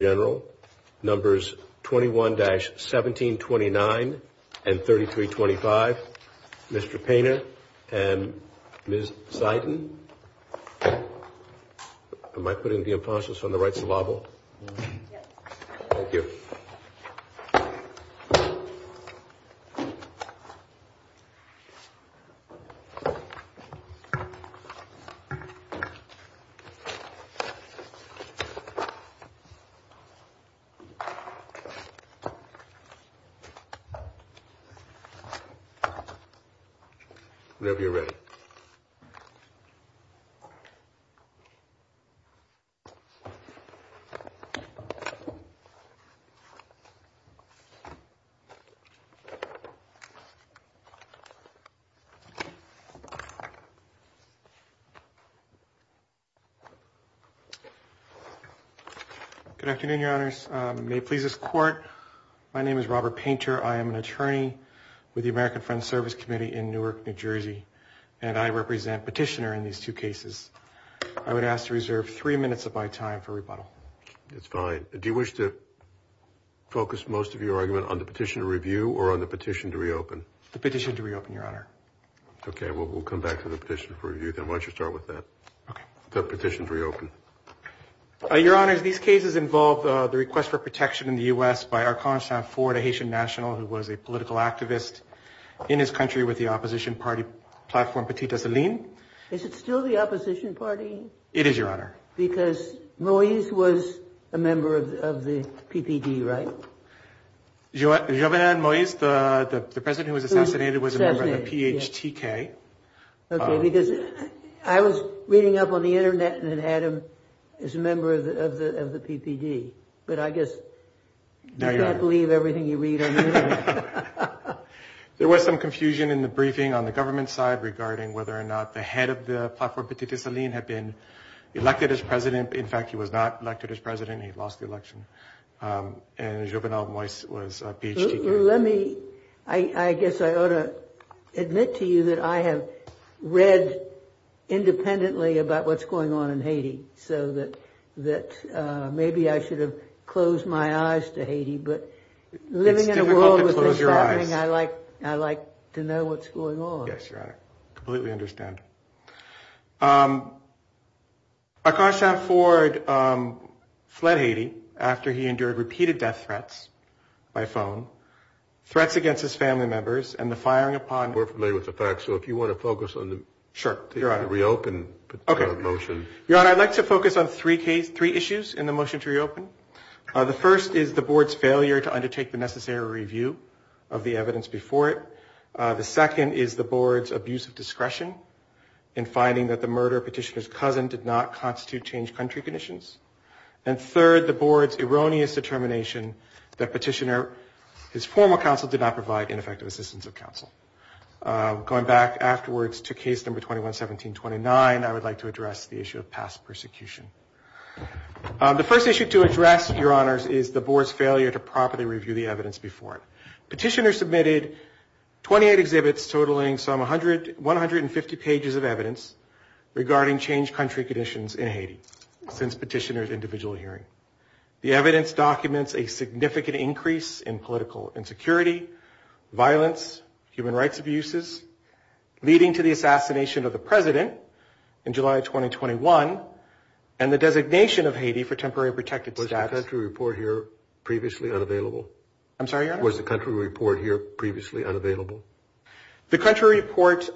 Numbers 21-1729 and 3325. Mr. Painter and Ms. Seiden. Am I putting the record in, Your Honors. May it please this court, my name is Robert Painter. I am an attorney with the American Friends Service Committee in Newark, New Jersey and I represent petitioner in these two cases. I would ask to reserve three minutes of my time for rebuttal. That's fine. Do you wish to focus most of your argument on the petition to review or on the petition to reopen? The petition to reopen, Your Honor. Okay. Well, we'll come back to the petition for review. Then why don't you start with that? Okay. The petition to reopen. Your Honors, these cases involve the request for protection in the U.S. by Archon Sanford, a Haitian national who was a political activist in his country with the opposition party platform Petite Asseline. Is it still the opposition party? It is, Your Honor. Because Moise was a member of the PPD, right? Jovenel Moise, the president who was a member of the PPD. But I guess you can't believe everything you read on the internet. There was some confusion in the briefing on the government side regarding whether or not the head of the platform Petite Asseline had been elected as president. In fact, he was not elected as president. He lost the election. And Jovenel Moise was a PhD candidate. Let me, I guess I ought to admit to you that I have read independently about what's going on in Haiti so that maybe I should have closed my eyes to Haiti. But living in a world where things are happening, I like to know what's going on. Yes, Your Honor. I completely understand. Archon Sanford fled Haiti after he endured repeated death threats by phone, threats against his family members, and the firing upon... We're familiar with the facts, so if you want to focus on the reopen motion. Your Honor, I'd like to focus on three issues in the motion to reopen. The first is the board's failure to undertake the necessary review of the evidence before it. The second is the board's abuse of discretion in finding that the murder of Petitioner's cousin did not constitute change country conditions. And third, the board's erroneous determination that Petitioner, his former counsel, did not 211729. I would like to address the issue of past persecution. The first issue to address, Your Honors, is the board's failure to properly review the evidence before it. Petitioner submitted 28 exhibits totaling some 150 pages of evidence regarding change country conditions in Haiti since Petitioner's individual hearing. The evidence documents a significant increase in political insecurity, violence, human rights abuses, leading to the assassination of the president in July of 2021, and the designation of Haiti for temporary protected status. Was the country report here previously unavailable? I'm sorry, Your Honor? Was the country report here previously unavailable? The country report,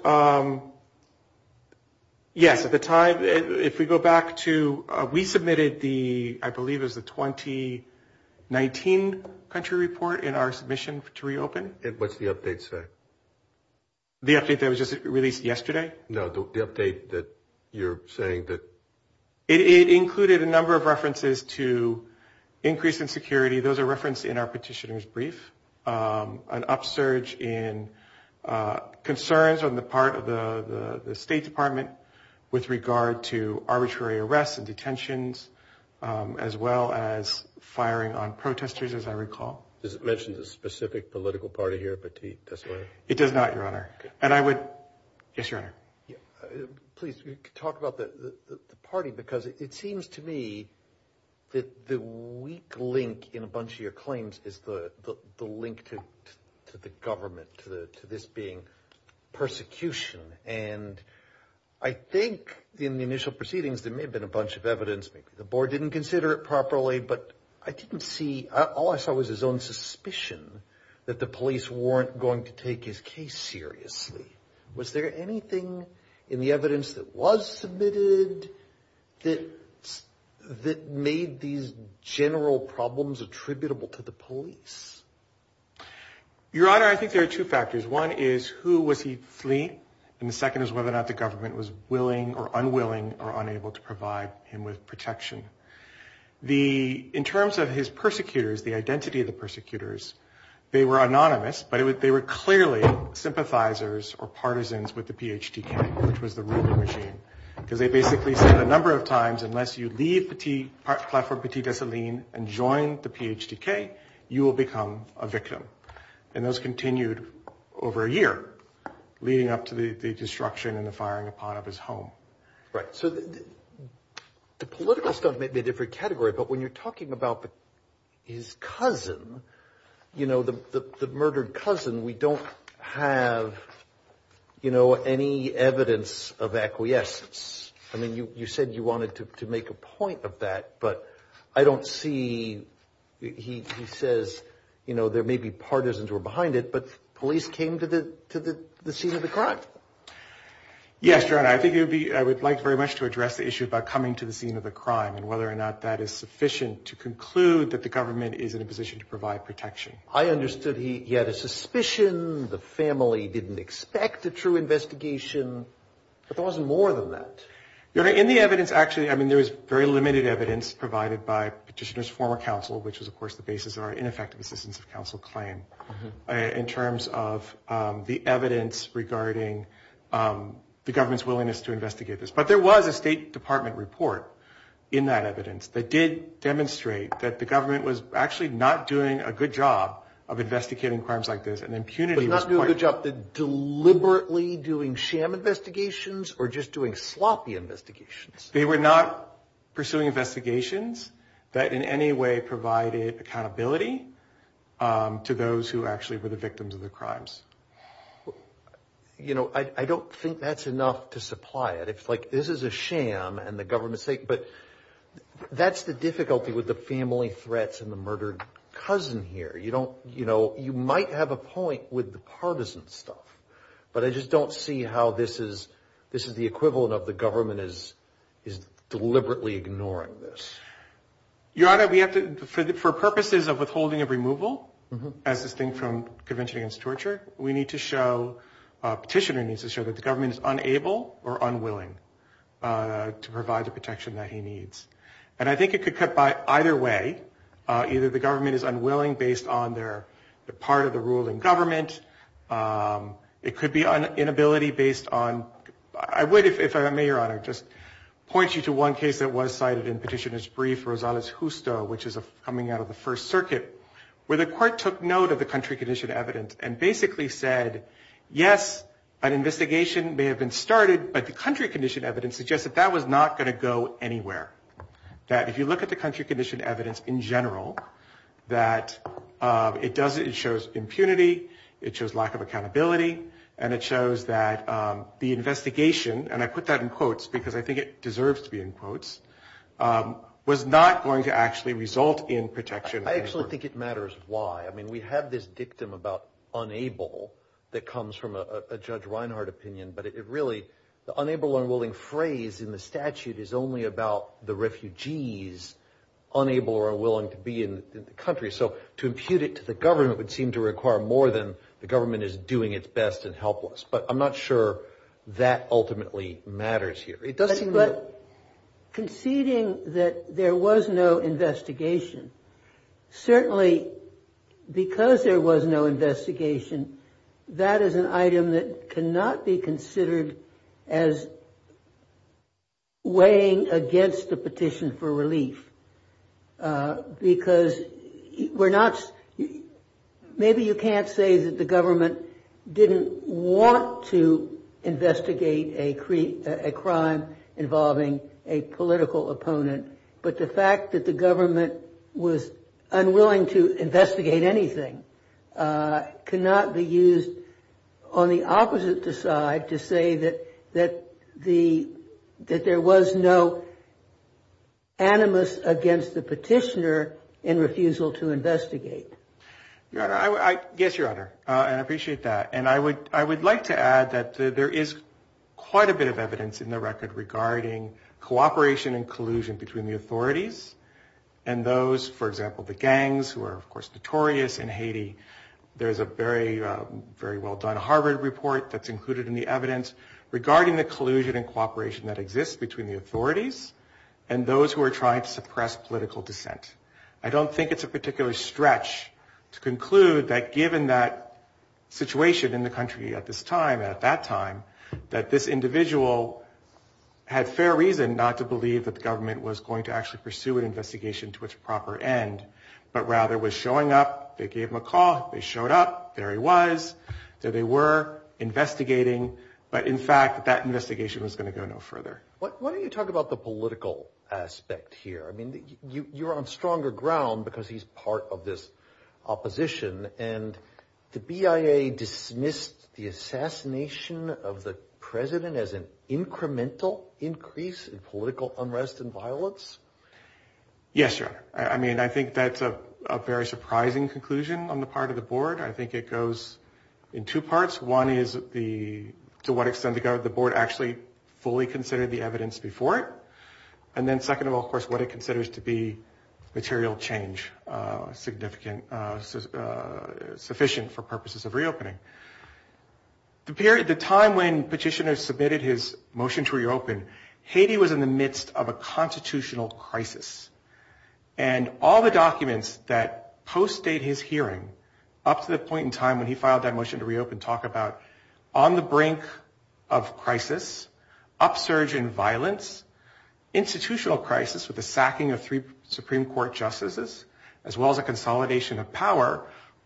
yes, at the time, if we go back to, we submitted the, I believe it was the 2019 country report in our submission to reopen. And what's the update say? The update that was just released yesterday? No, the update that you're saying that... It included a number of references to increase insecurity. Those are referenced in our Petitioner's brief. An upsurge in concerns on the part of the State Department with regard to arbitrary arrests and detentions, as well as firing on protesters, as I recall. Does it mention the specific political party here, Petit? It does not, Your Honor. And I would... Yes, Your Honor? Please, talk about the party, because it seems to me that the weak link in a bunch of your claims is the link to the government, to this being persecution. And I think in the initial proceedings, there may have been a bunch of evidence, maybe the board didn't consider it properly, but I didn't see... All I saw was his own suspicion that the police weren't going to take his case seriously. Was there anything in the evidence that was submitted that made these general problems attributable to the police? Your Honor, I think there are two factors. One is who was he fleeing, and the second is whether or not the government was willing or unwilling or unable to provide him with protection. In terms of his persecutors, the identity of the persecutors, they were anonymous, but they were clearly sympathizers or partisans with the PHT camp, which was the ruling regime. Because they basically said a number of times, unless you leave Platform Petit Dessalines and join the PHTK, you will become a victim. And those continued over a year, leading up to the destruction and the firing upon of his home. Right. So the political stuff may be a different category, but when you're talking about his cousin, the murdered cousin, we don't have any evidence of acquiescence. I mean, you said you wanted to make a point of that, but I don't see, he says, you know, there may be partisans who are behind it, but police came to the scene of the crime. Yes, Your Honor, I think it would be, I would like very much to address the issue about coming to the scene of the crime and whether or not that is sufficient to conclude that the government is in a position to provide protection. I understood he had a suspicion, the family didn't expect a true investigation, but there wasn't more than that. Your Honor, in the evidence, actually, I mean, there was very limited evidence provided by Petitioner's former counsel, which was, of course, the basis of our ineffective assistance of counsel claim in terms of the evidence regarding the government's willingness to investigate this. But there was a State Department report in that evidence that did demonstrate that the government was actually not doing a good job of investigating crimes like this, and impunity was quite... But not doing a good job of deliberately doing sham investigations or just doing sloppy investigations? They were not pursuing investigations that in any way provided accountability to those who actually were the victims of the crimes. You know, I don't think that's enough to supply it. It's like, this is a sham and the government's sake, but that's the difficulty with the family threats and the murdered cousin here. You don't, you know, you might have a point with the partisan stuff, but I just don't see how this is, this is the equivalent of the government is deliberately ignoring this. Your Honor, we have to, for purposes of withholding of removal, as distinct from Convention Against Torture, we need to show, Petitioner needs to show that the government is unable or unwilling to provide the protection that he needs. And I think it could cut by either way. Either the government is unwilling based on the part of the ruling government, it could be inability based on... I would, if I may, Your Honor, just point you to one case that was cited in Petitioner's brief, Rosales-Justo, which is coming out of the First Circuit, where the court took note of the country condition evidence and basically said, yes, an investigation may have been started, but the country condition evidence suggests that that was not going to go anywhere. That if you look at the country condition evidence in general, that it does, it shows impunity, it shows lack of accountability, and it shows that the investigation, and I put that in quotes because I think it deserves to be in quotes, was not going to actually result in protection. I actually think it matters why. I mean, we have this dictum about unable that comes from a Judge Reinhardt opinion, but it really, the unable or unwilling phrase in the statute is only about the refugees unable or unwilling to be in the country. So to impute it to the government would seem to require more than the government is doing its best and helpless. But I'm not sure that ultimately matters here. It does seem that... But conceding that there was no investigation, certainly because there was no investigation, that is an item that cannot be considered as weighing against the petition for relief. Because we're not, maybe you can't say that the government didn't want to investigate a crime involving a political opponent, but the fact that the government was unwilling to investigate anything cannot be used on the opposite side to say that there was no animus against the petitioner in refusal to investigate. Your Honor, yes, Your Honor, and I appreciate that. And I would like to add that there is quite a bit of evidence in the record regarding cooperation and collusion between the authorities and those, for example, the gangs who are, of course, notorious in Haiti. There's a very well done Harvard report that's included in the evidence regarding the collusion and cooperation that exists between the authorities and those who are trying to suppress political dissent. I don't think it's a particular stretch to conclude that given that situation in the country at this time, at that time, that this individual had fair reason not to believe that pursue an investigation to its proper end, but rather was showing up. They gave him a call. They showed up. There he was. There they were investigating. But in fact, that investigation was going to go no further. Why don't you talk about the political aspect here? I mean, you're on stronger ground because he's part of this opposition. And the BIA dismissed the assassination of the president as an incremental increase in political unrest and violence. Yes, sir. I mean, I think that's a very surprising conclusion on the part of the board. I think it goes in two parts. One is the, to what extent the board actually fully considered the evidence before it. And then second of all, of course, what it considers to be material change, significant, sufficient for purposes of reopening. The period, the time when petitioners submitted his motion to reopen, Haiti was in the midst of a constitutional crisis. And all the documents that post-date his hearing up to the point in time when he filed that motion to reopen talk about on the brink of crisis, upsurge in violence, institutional crisis with the sacking of three Supreme Court justices, as well as a consolidation of power,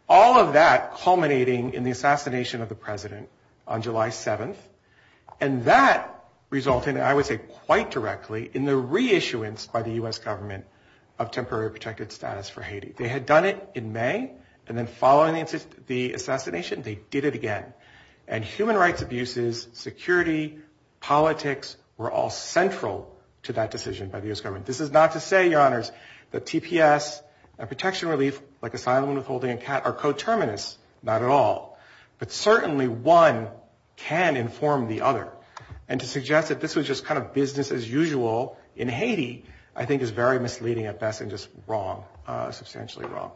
all of that culminating in the assassination of the president on July 7th. And that resulted, I would say quite directly, in the reissuance by the US government of temporary protected status for Haiti. They had done it in May, and then following the assassination, they did it again. And human rights abuses, security, politics, were all central to that decision by the US government. This is not to say, your honors, that TPS and protection relief, like asylum withholding, are coterminous, not at all. But certainly one can inform the other. And to suggest that this was just kind of business as usual in Haiti, I think is very misleading at best and just wrong, substantially wrong.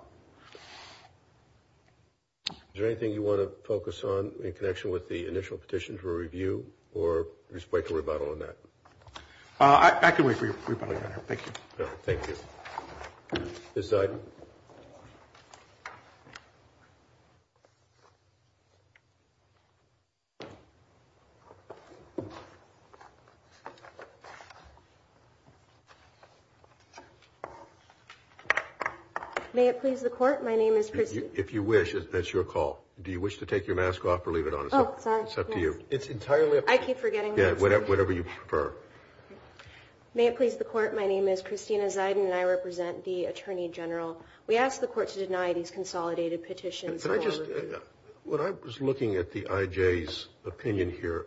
Is there anything you want to focus on in connection with the initial petition for review, or you just like a rebuttal on that? I can wait for your rebuttal, your honor. Thank you. No, thank you. This side. May it please the court, my name is Christine. If you wish, that's your call. Do you wish to take your mask off or leave it on? Oh, sorry. It's up to you. It's entirely up to you. I keep forgetting. Yeah, whatever you prefer. May it please the court, my name is Christina Ziden, and I represent the attorney general. We ask the court to deny these consolidated petitions. Can I just, when I was looking at the IJ's opinion here,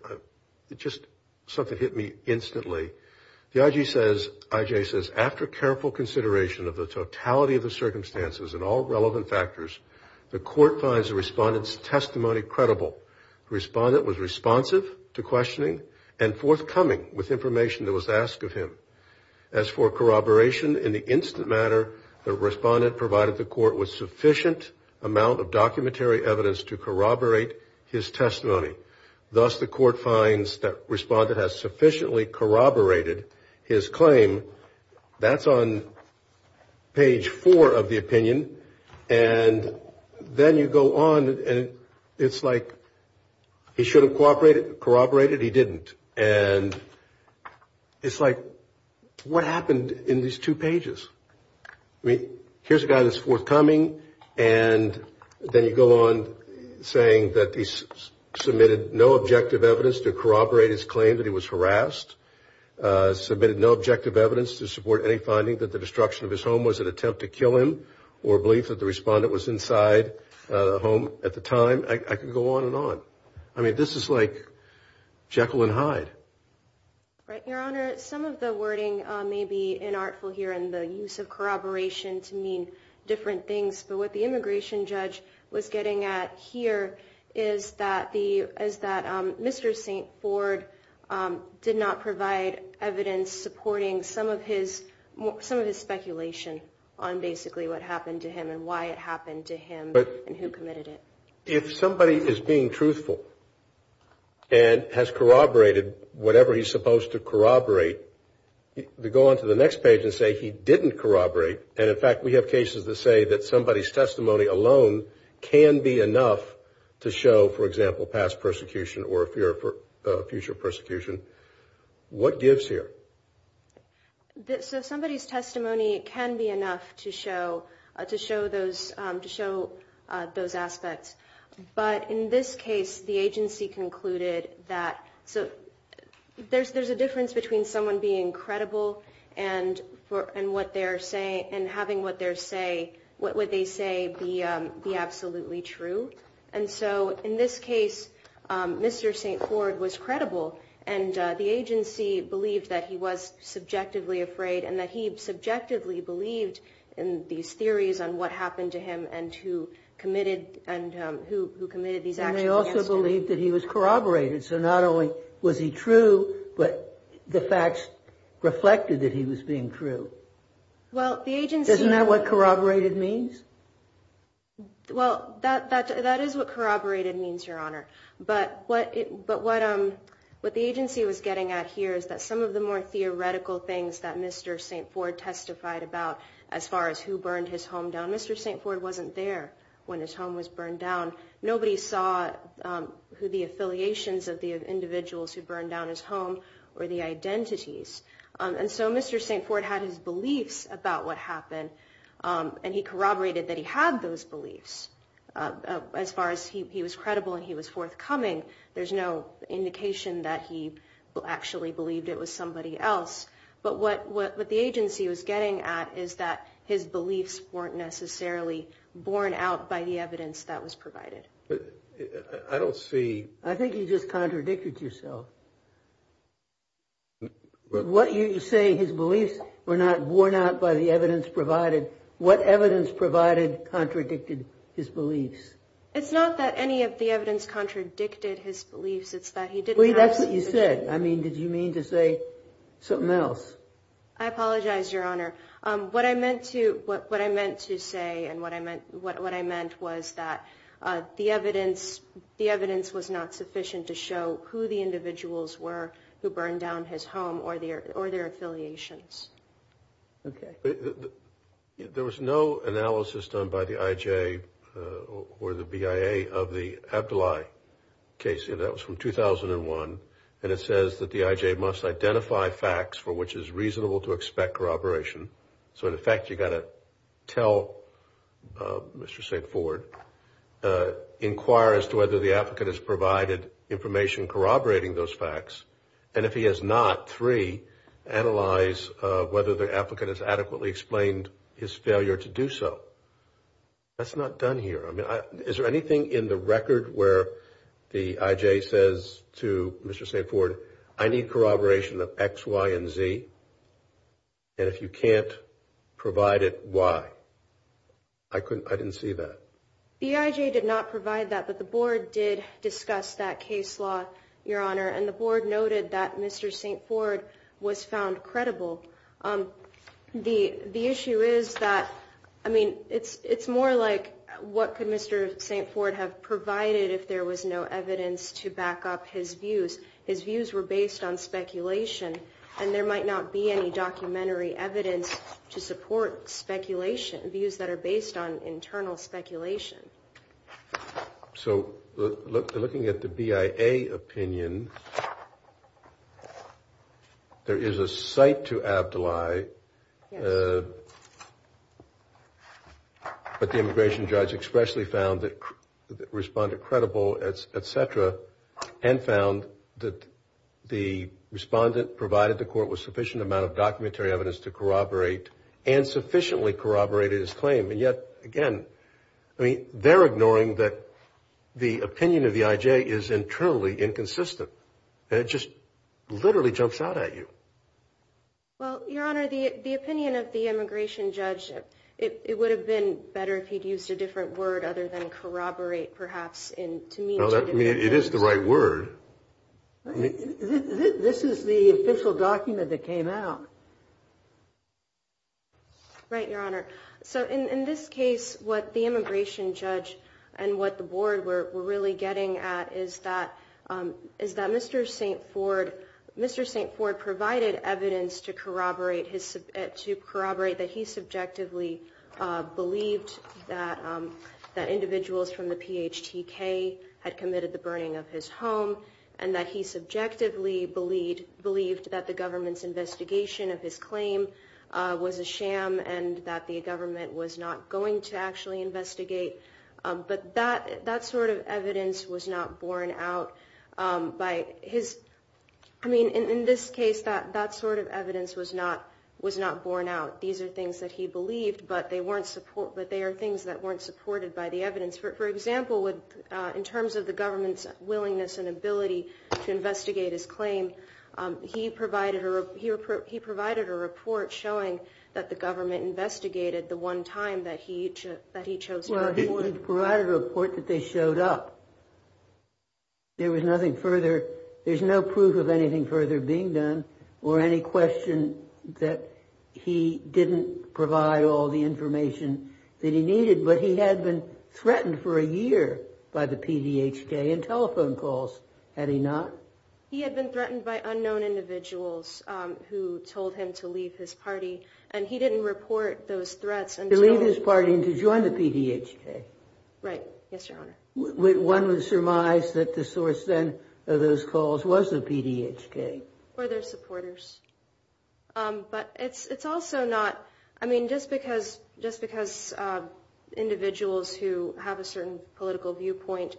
it just, something hit me instantly. The IJ says, after careful consideration of the totality of the circumstances and all relevant factors, the court finds the respondent's testimony credible. The respondent was responsive to questioning and forthcoming with information that was asked of him. As for corroboration, in the instant matter, the respondent provided the court with sufficient amount of documentary evidence to corroborate his testimony. Thus, the court finds that respondent has sufficiently corroborated his claim. That's on page four of the opinion. And then you go on, and it's like, he should have corroborated, he didn't. And it's like, what happened in these two pages? I mean, here's a guy that's forthcoming, and then you go on saying that he submitted no objective evidence to corroborate his claim, that he was harassed. Submitted no objective evidence to support any finding that the the respondent was inside the home at the time. I could go on and on. I mean, this is like Jekyll and Hyde. Right, your honor, some of the wording may be inartful here, and the use of corroboration to mean different things. But what the immigration judge was getting at here is that Mr. St. Ford did not provide evidence supporting some of his speculation on basically what happened to him and why it happened to him and who committed it. If somebody is being truthful and has corroborated whatever he's supposed to corroborate, to go on to the next page and say he didn't corroborate, and in fact we have cases that say that somebody's testimony alone can be enough to show, for example, past persecution or future persecution, what gives here? So somebody's testimony can be enough to show those aspects. But in this case, the agency concluded that there's a difference between someone being credible and having what they say be absolutely true. And so in this case, Mr. St. Ford was credible and the agency believed that he was subjectively afraid and that he subjectively believed in these theories on what happened to him and who committed these actions. And they also believed that he was corroborated. So not only was he true, but the facts reflected that he was being true. Isn't that what corroborated means? Well, that is what corroborated means, Your Honor. But what the agency was getting at here is that some of the more theoretical things that Mr. St. Ford testified about, as far as who burned his home down, Mr. St. Ford wasn't there when his home was burned down. Nobody saw the affiliations of the individuals who burned down his home or the identities. And so Mr. St. Ford had his beliefs about what happened, and he corroborated that he had those beliefs. As far as he was credible and he was forthcoming, there's no indication that he actually believed it was somebody else. But what the agency was getting at is that his beliefs weren't necessarily borne out by the evidence that was provided. I don't see... I think you just contradicted yourself. What you're saying, his beliefs were not borne out by the evidence provided. What evidence provided contradicted his beliefs? It's not that any of the evidence contradicted his beliefs, it's that he didn't have... Well, that's what you said. I mean, did you mean to say something else? I apologize, Your Honor. What I meant to say and what I meant was that the evidence was not sufficient to show who the individuals were who burned down his home or their affiliations. Okay. There was no analysis done by the IJ or the BIA of the Abdullahi case. That was from 2001, and it says that the IJ must identify facts for which is reasonable to expect corroboration. So, in effect, you've got to tell Mr. St. Ford, inquire as to whether the applicant has provided information corroborating those facts, and if he has not, three, analyze whether the applicant has adequately explained his failure to do so. That's not done here. I mean, is there anything in the record where the IJ says to Mr. St. Ford, I need corroboration of X, Y, and Z, and if you can't provide it, Y? I didn't see that. The IJ did not provide that, but the board did discuss that case law, Your Honor, and the board noted that Mr. St. Ford was found credible. The issue is that, I mean, it's more like what could Mr. St. Ford have provided if there was no evidence to back up his views? His views were based on speculation, and there might not be any documentary evidence to support speculation, views that are based on internal speculation. So, looking at the BIA opinion, there is a cite to Abdullahi, but the immigration judge expressly found the respondent credible, etc., and found that the respondent provided the court with sufficient amount of documentary evidence to corroborate and sufficiently corroborated his claim, and yet, again, I mean, they're ignoring that the opinion of the IJ is internally inconsistent. It just literally jumps out at you. Well, Your Honor, the opinion of the immigration judge, it would have been better if he'd used a different word other than corroborate, perhaps, to mean two different things. It is the right word. This is the official document that came out. Right, Your Honor. So, in this case, what the immigration judge and what the board were really getting at is that Mr. St. Ford provided evidence to corroborate that he subjectively believed that individuals from the PHTK had committed the burning of his home, and that he subjectively believed that the government's investigation of his claim was a sham, and that the government was not going to actually investigate, but that sort of evidence was not borne out by his, I mean, in this case, that sort of evidence was not borne out. These are things that he believed, but they are things that weren't supported by the evidence. For example, in terms of the government's willingness and ability to investigate his claim, he provided a report showing that the government investigated the one time that he chose to report it. Well, he provided a report that they showed up. There was nothing further. There's no proof of anything further being done or any question that he didn't provide all the information that he needed, but he had been threatened for a year by the PHTK in telephone calls, had he not? He had been threatened by unknown individuals who told him to leave his party, and he didn't report those threats. To leave his party and to join the PHTK. Right. Yes, your honor. One would surmise that the source then of those calls was the PHTK. Or their supporters. But it's also not, I mean, just because individuals who have a certain political viewpoint,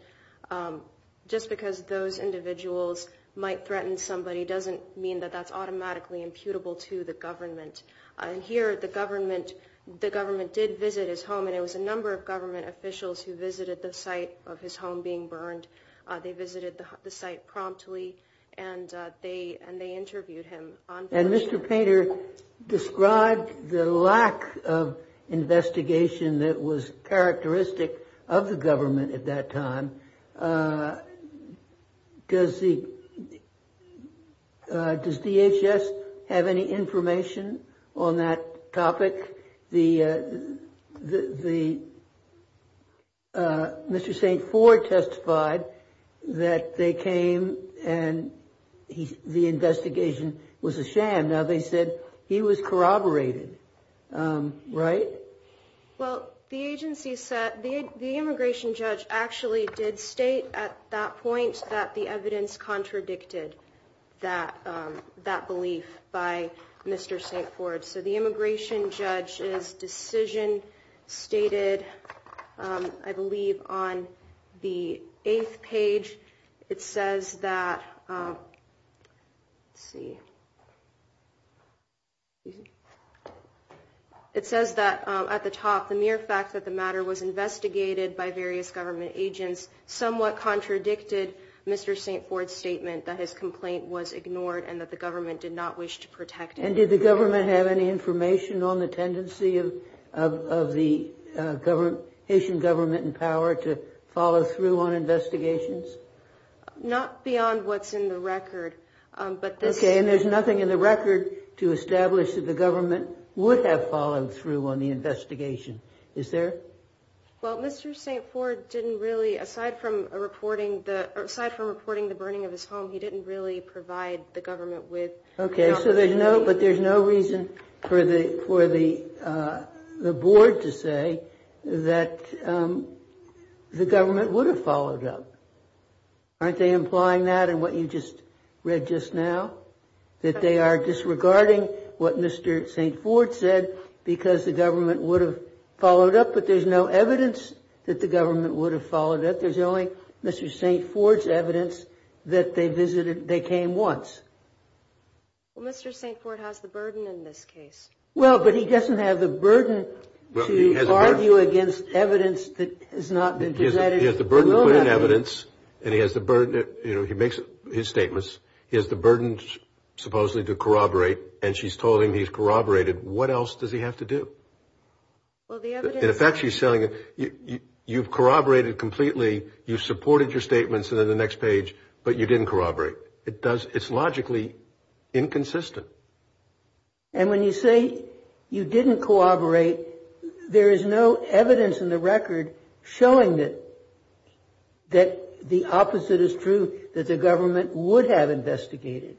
just because those individuals might threaten somebody doesn't mean that that's automatically imputable to the government. And here the government, the government did visit his home, and it was a number of government officials who visited the site of his home being burned. They visited the site promptly, and they interviewed him. And Mr. Painter described the lack of investigation that was characteristic of the government at that time. Does DHS have any information on that topic? Mr. St. Ford testified that they came and the investigation was a sham. Now they said he was corroborated, right? Well, the agency said, the immigration judge actually did state at that point that the evidence contradicted that belief by Mr. St. Ford. So the immigration judge's decision stated, I believe, on the eighth page, it says that, let's see, it says that at the top, the mere fact that the matter was investigated by various government agents somewhat contradicted Mr. St. Ford's statement that his complaint was ignored and that the government did not wish to protect him. And did the government have any information on the tendency of the Haitian government in power to follow through on investigations? Not beyond what's in the record, but... Okay, and there's nothing in the record to establish that the government would have followed through on the investigation, is there? Well, Mr. St. Ford didn't really, aside from reporting the burning of his home, he didn't really provide the government with... Okay, but there's no reason for the board to say that the government would have followed up. Aren't they implying that in what you just read just now? That they are disregarding what Mr. St. Ford said because the government would have followed up, but there's no evidence that the government would have followed up. There's only Mr. St. Ford's evidence that they visited, they came once. Well, Mr. St. Ford has the burden in this case. Well, but he doesn't have the burden to argue against evidence that has not been presented. He has the burden to put in evidence and he has the burden, you know, he makes his statements, he has the burden supposedly to corroborate and she's told him he's corroborated. What else does he have to do? Well, the evidence... In fact, she's telling him, you've corroborated completely, you supported your statements in the next page, but you didn't corroborate. It's logically inconsistent. And when you say you didn't corroborate, there is no evidence in the record showing that the opposite is true, that the government would have investigated.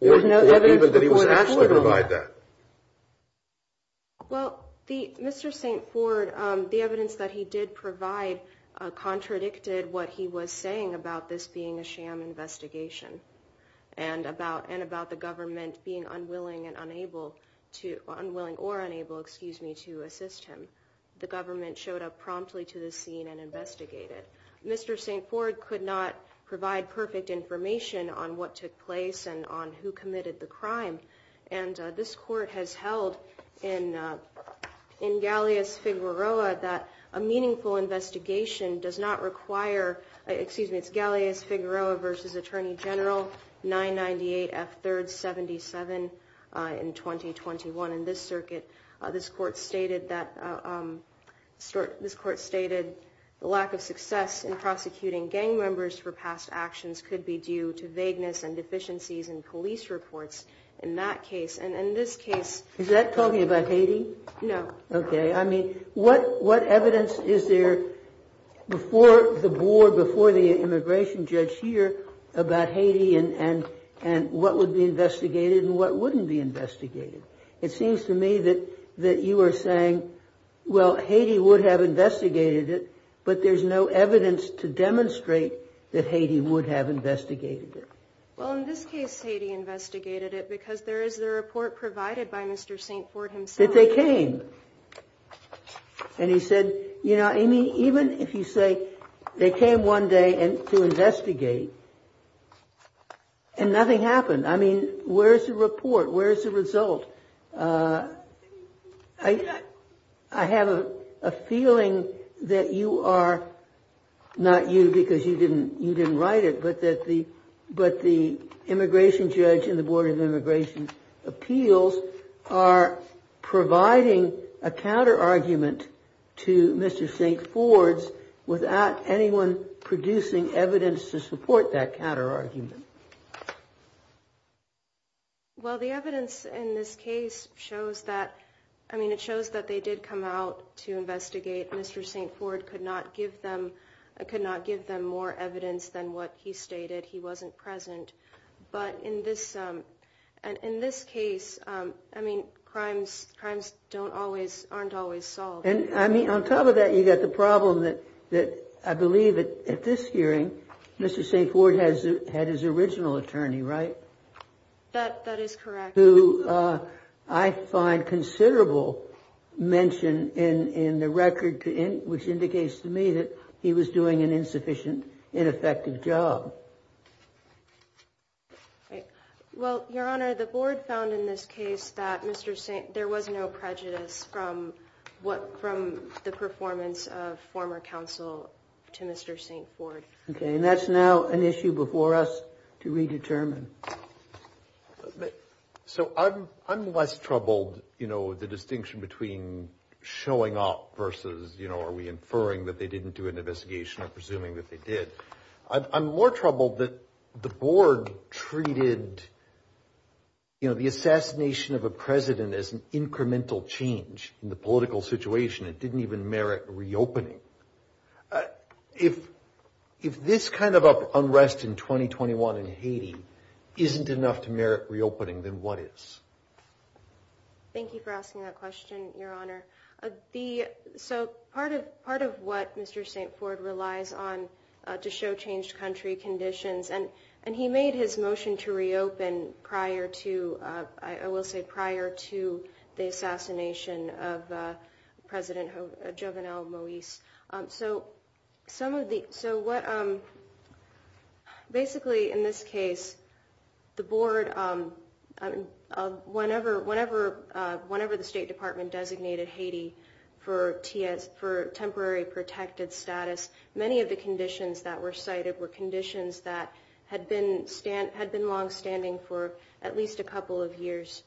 There's no evidence that he was actually going to provide that. Well, Mr. St. Ford, the evidence that he did provide contradicted what he was saying about this being a sham investigation and about the government being unwilling and unable to, unwilling or unable, excuse me, to assist him. The government showed up promptly to the scene and investigate it. Mr. St. Ford could not provide perfect information on what took place and on who committed the crime. And this court has held in Galleas-Figueroa that a meaningful investigation does not require, excuse me, it's Galleas-Figueroa versus Attorney General 998 F. 3rd 77 in 2021. In this circuit, this court stated that... This court stated the lack of success in prosecuting gang members for past actions could be due to vagueness and deficiencies in police reports in that case. And in this case... Is that talking about Haiti? No. Okay. I mean, what evidence is there before the board, before the immigration judge here about Haiti and what would be investigated and what wouldn't be investigated? It seems to me that you are saying, well, Haiti would have investigated it, but there's no evidence to demonstrate that Haiti would have investigated it. Well, in this case, Haiti investigated it because there is the report provided by Mr. St. Ford himself. They came. And he said, you know, even if you say they came one day to investigate and nothing happened, I mean, where's the report? Where's the result? I have a feeling that you are, not you because you didn't write it, but that the immigration judge and the board of immigration appeals are providing a counter argument to Mr. St. Ford's without anyone producing evidence to support that counter argument. Well, the evidence in this case shows that, I mean, it shows that they did come out to investigate. Mr. St. Ford could not give them more evidence than what he stated. He wasn't present. But in this case, I mean, crimes aren't always solved. And I mean, on top of that, you've got the problem that I believe that at this hearing, Mr. St. Ford had his original attorney, right? That is correct. Who I find considerable mention in the record, which indicates to me that he was doing an insufficient, ineffective job. Right. Well, Your Honor, the board found in this case that there was no prejudice from the performance of former counsel to Mr. St. Ford. Okay. And that's now an issue before us to redetermine. So I'm less troubled, you know, the distinction between showing up versus, you know, are we inferring that they didn't do an investigation or presuming that they did? I'm more troubled that the board treated, you know, the assassination of a president as an incremental change in the political situation. It didn't even merit reopening. If this kind of unrest in 2021 in Haiti isn't enough to merit reopening, then what is? Thank you for asking that question, Your Honor. The, so part of what Mr. St. Ford relies on to show changed country conditions, and he made his motion to reopen prior to, I will say prior to the assassination of President Jovenel Moise. So some of the, so what, basically in this case, the board, whenever the State Department designated Haiti for temporary protected status, many of the conditions that were cited were conditions that had been long standing for at least a couple of years.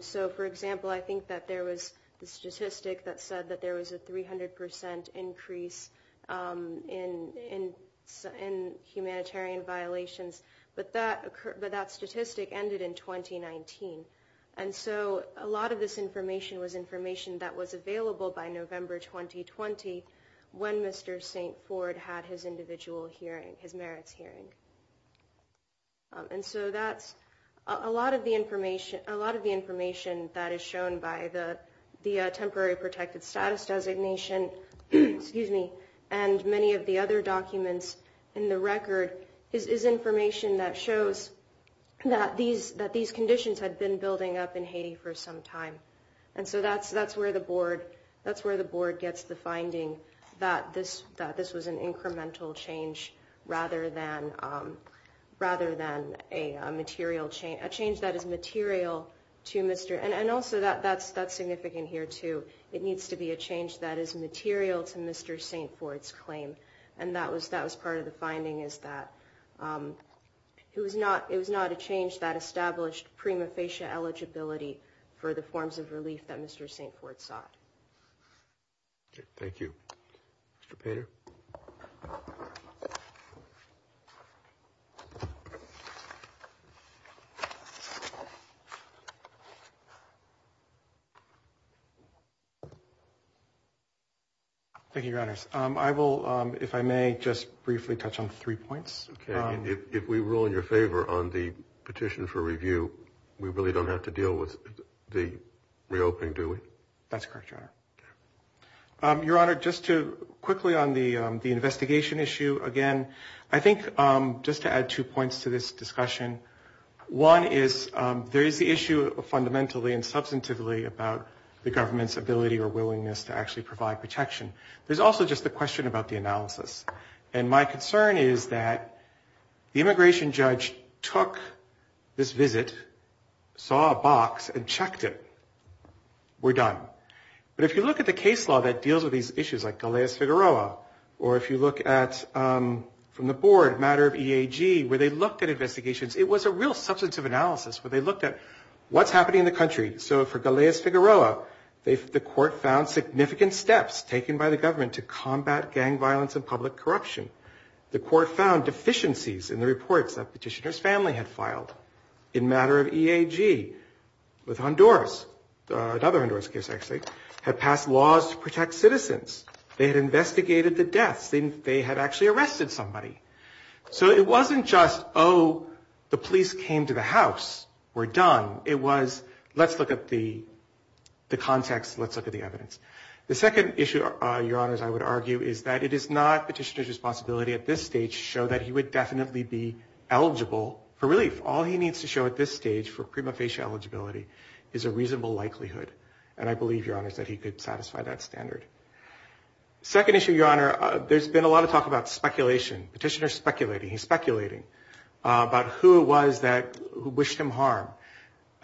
So for example, I think that there was the statistic that said that there was a 300% increase in humanitarian violations, but that statistic ended in 2019. And so a lot of this information was information that was available by November 2020 when Mr. St. Ford had his individual hearing, his merits hearing. And so that's a lot of the information, a lot of the information that is shown by the temporary protected status designation, excuse me, and many of the other documents in the record is information that shows that these conditions had been building up in Haiti for some time. And so that's where the board, that's where the board gets the finding that this was an incremental change rather than a material change, a change that is material to Mr., and also that's significant here too, it needs to be a change that is material to Mr. St. Ford's claim. And that was part of the finding is that it was not, that established prima facie eligibility for the forms of relief that Mr. St. Ford sought. Okay, thank you. Mr. Pater. Thank you, your honors. I will, if I may, just briefly touch on three points. If we rule in your favor on the petition for review, we really don't have to deal with the reopening, do we? That's correct, your honor. Your honor, just to quickly on the investigation issue again, I think just to add two points to this discussion. One is there is the issue of fundamentally and substantively about the government's ability or willingness to actually provide protection. There's also just the question about the analysis. And my concern is that the immigration judge took this visit, saw a box, and checked it. We're done. But if you look at the case law that deals with these issues like Galeas-Figueroa, or if you look at from the board, matter of EAG, where they looked at investigations, it was a real substantive analysis where they looked at what's happening in the country. So for Galeas-Figueroa, the court found significant steps taken by the government to combat gang violence and public corruption. The court found deficiencies in the reports that petitioner's family had filed. In matter of EAG, with Honduras, another Honduras case, actually, had passed laws to protect citizens. They had investigated the deaths. They had actually arrested somebody. So it wasn't just, oh, the police came to the house. We're done. It was, let's look at the context. Let's look at the evidence. The second issue, Your Honors, I would argue is that it is not petitioner's responsibility at this stage to show that he would definitely be eligible for relief. All he needs to show at this stage for prima facie eligibility is a reasonable likelihood. And I believe, Your Honors, that he could satisfy that standard. Second issue, Your Honor, there's been a lot of talk about speculation. Petitioner's I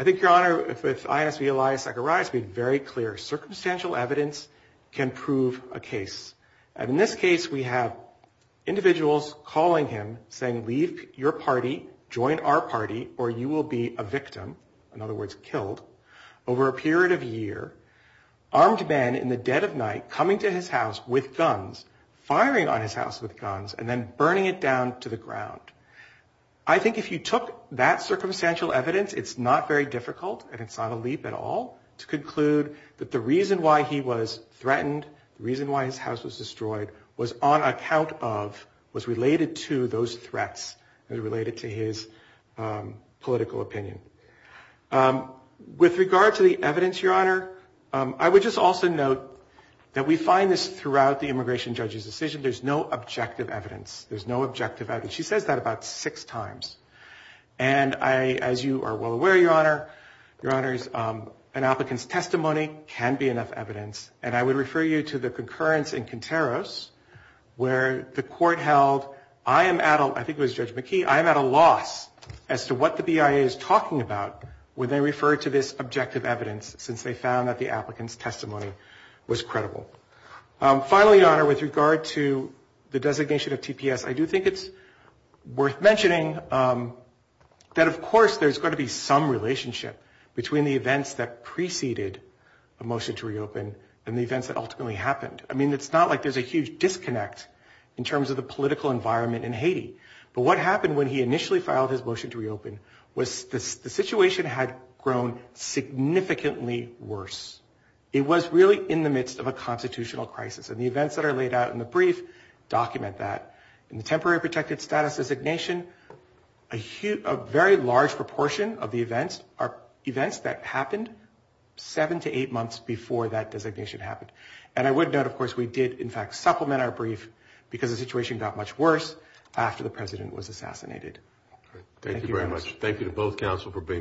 think, Your Honor, with ISB Elias Zechariah, it's been very clear. Circumstantial evidence can prove a case. And in this case, we have individuals calling him, saying, leave your party, join our party, or you will be a victim. In other words, killed. Over a period of a year, armed men in the dead of night coming to his house with guns, firing on his house with guns, and then burning it down to the ground. I think if you took that circumstantial evidence, it's not very difficult, and it's not a leap at all, to conclude that the reason why he was threatened, the reason why his house was destroyed, was on account of, was related to those threats and related to his political opinion. With regard to the evidence, Your Honor, I would just also note that we find this throughout the immigration judge's decision. There's no objective evidence. There's no objective evidence. She says that about six times. And I, as you are well aware, Your Honor, Your Honor, an applicant's testimony can be enough evidence. And I would refer you to the concurrence in Quinteros, where the court held, I am at a, I think it was Judge McKee, I am at a loss as to what the BIA is talking about when they refer to this objective evidence, since they found that the applicant's testimony was credible. Finally, Your Honor, with regard to the designation of TPS, I do think it's worth mentioning that, of course, there's got to be some relationship between the events that preceded a motion to reopen and the events that ultimately happened. I mean, it's not like there's a huge disconnect in terms of the political environment in Haiti. But what happened when he initially filed his motion to reopen was the situation had grown significantly worse. It was really in the midst of a constitutional crisis. And the events that are laid out in the brief document that. In the temporary protected status designation, a huge, a very large proportion of the events are events that happened seven to eight months before that designation happened. And I would note, of course, we did, in fact, supplement our brief because the situation got much worse after the president was assassinated. Thank you very much. Thank you to both counsel for being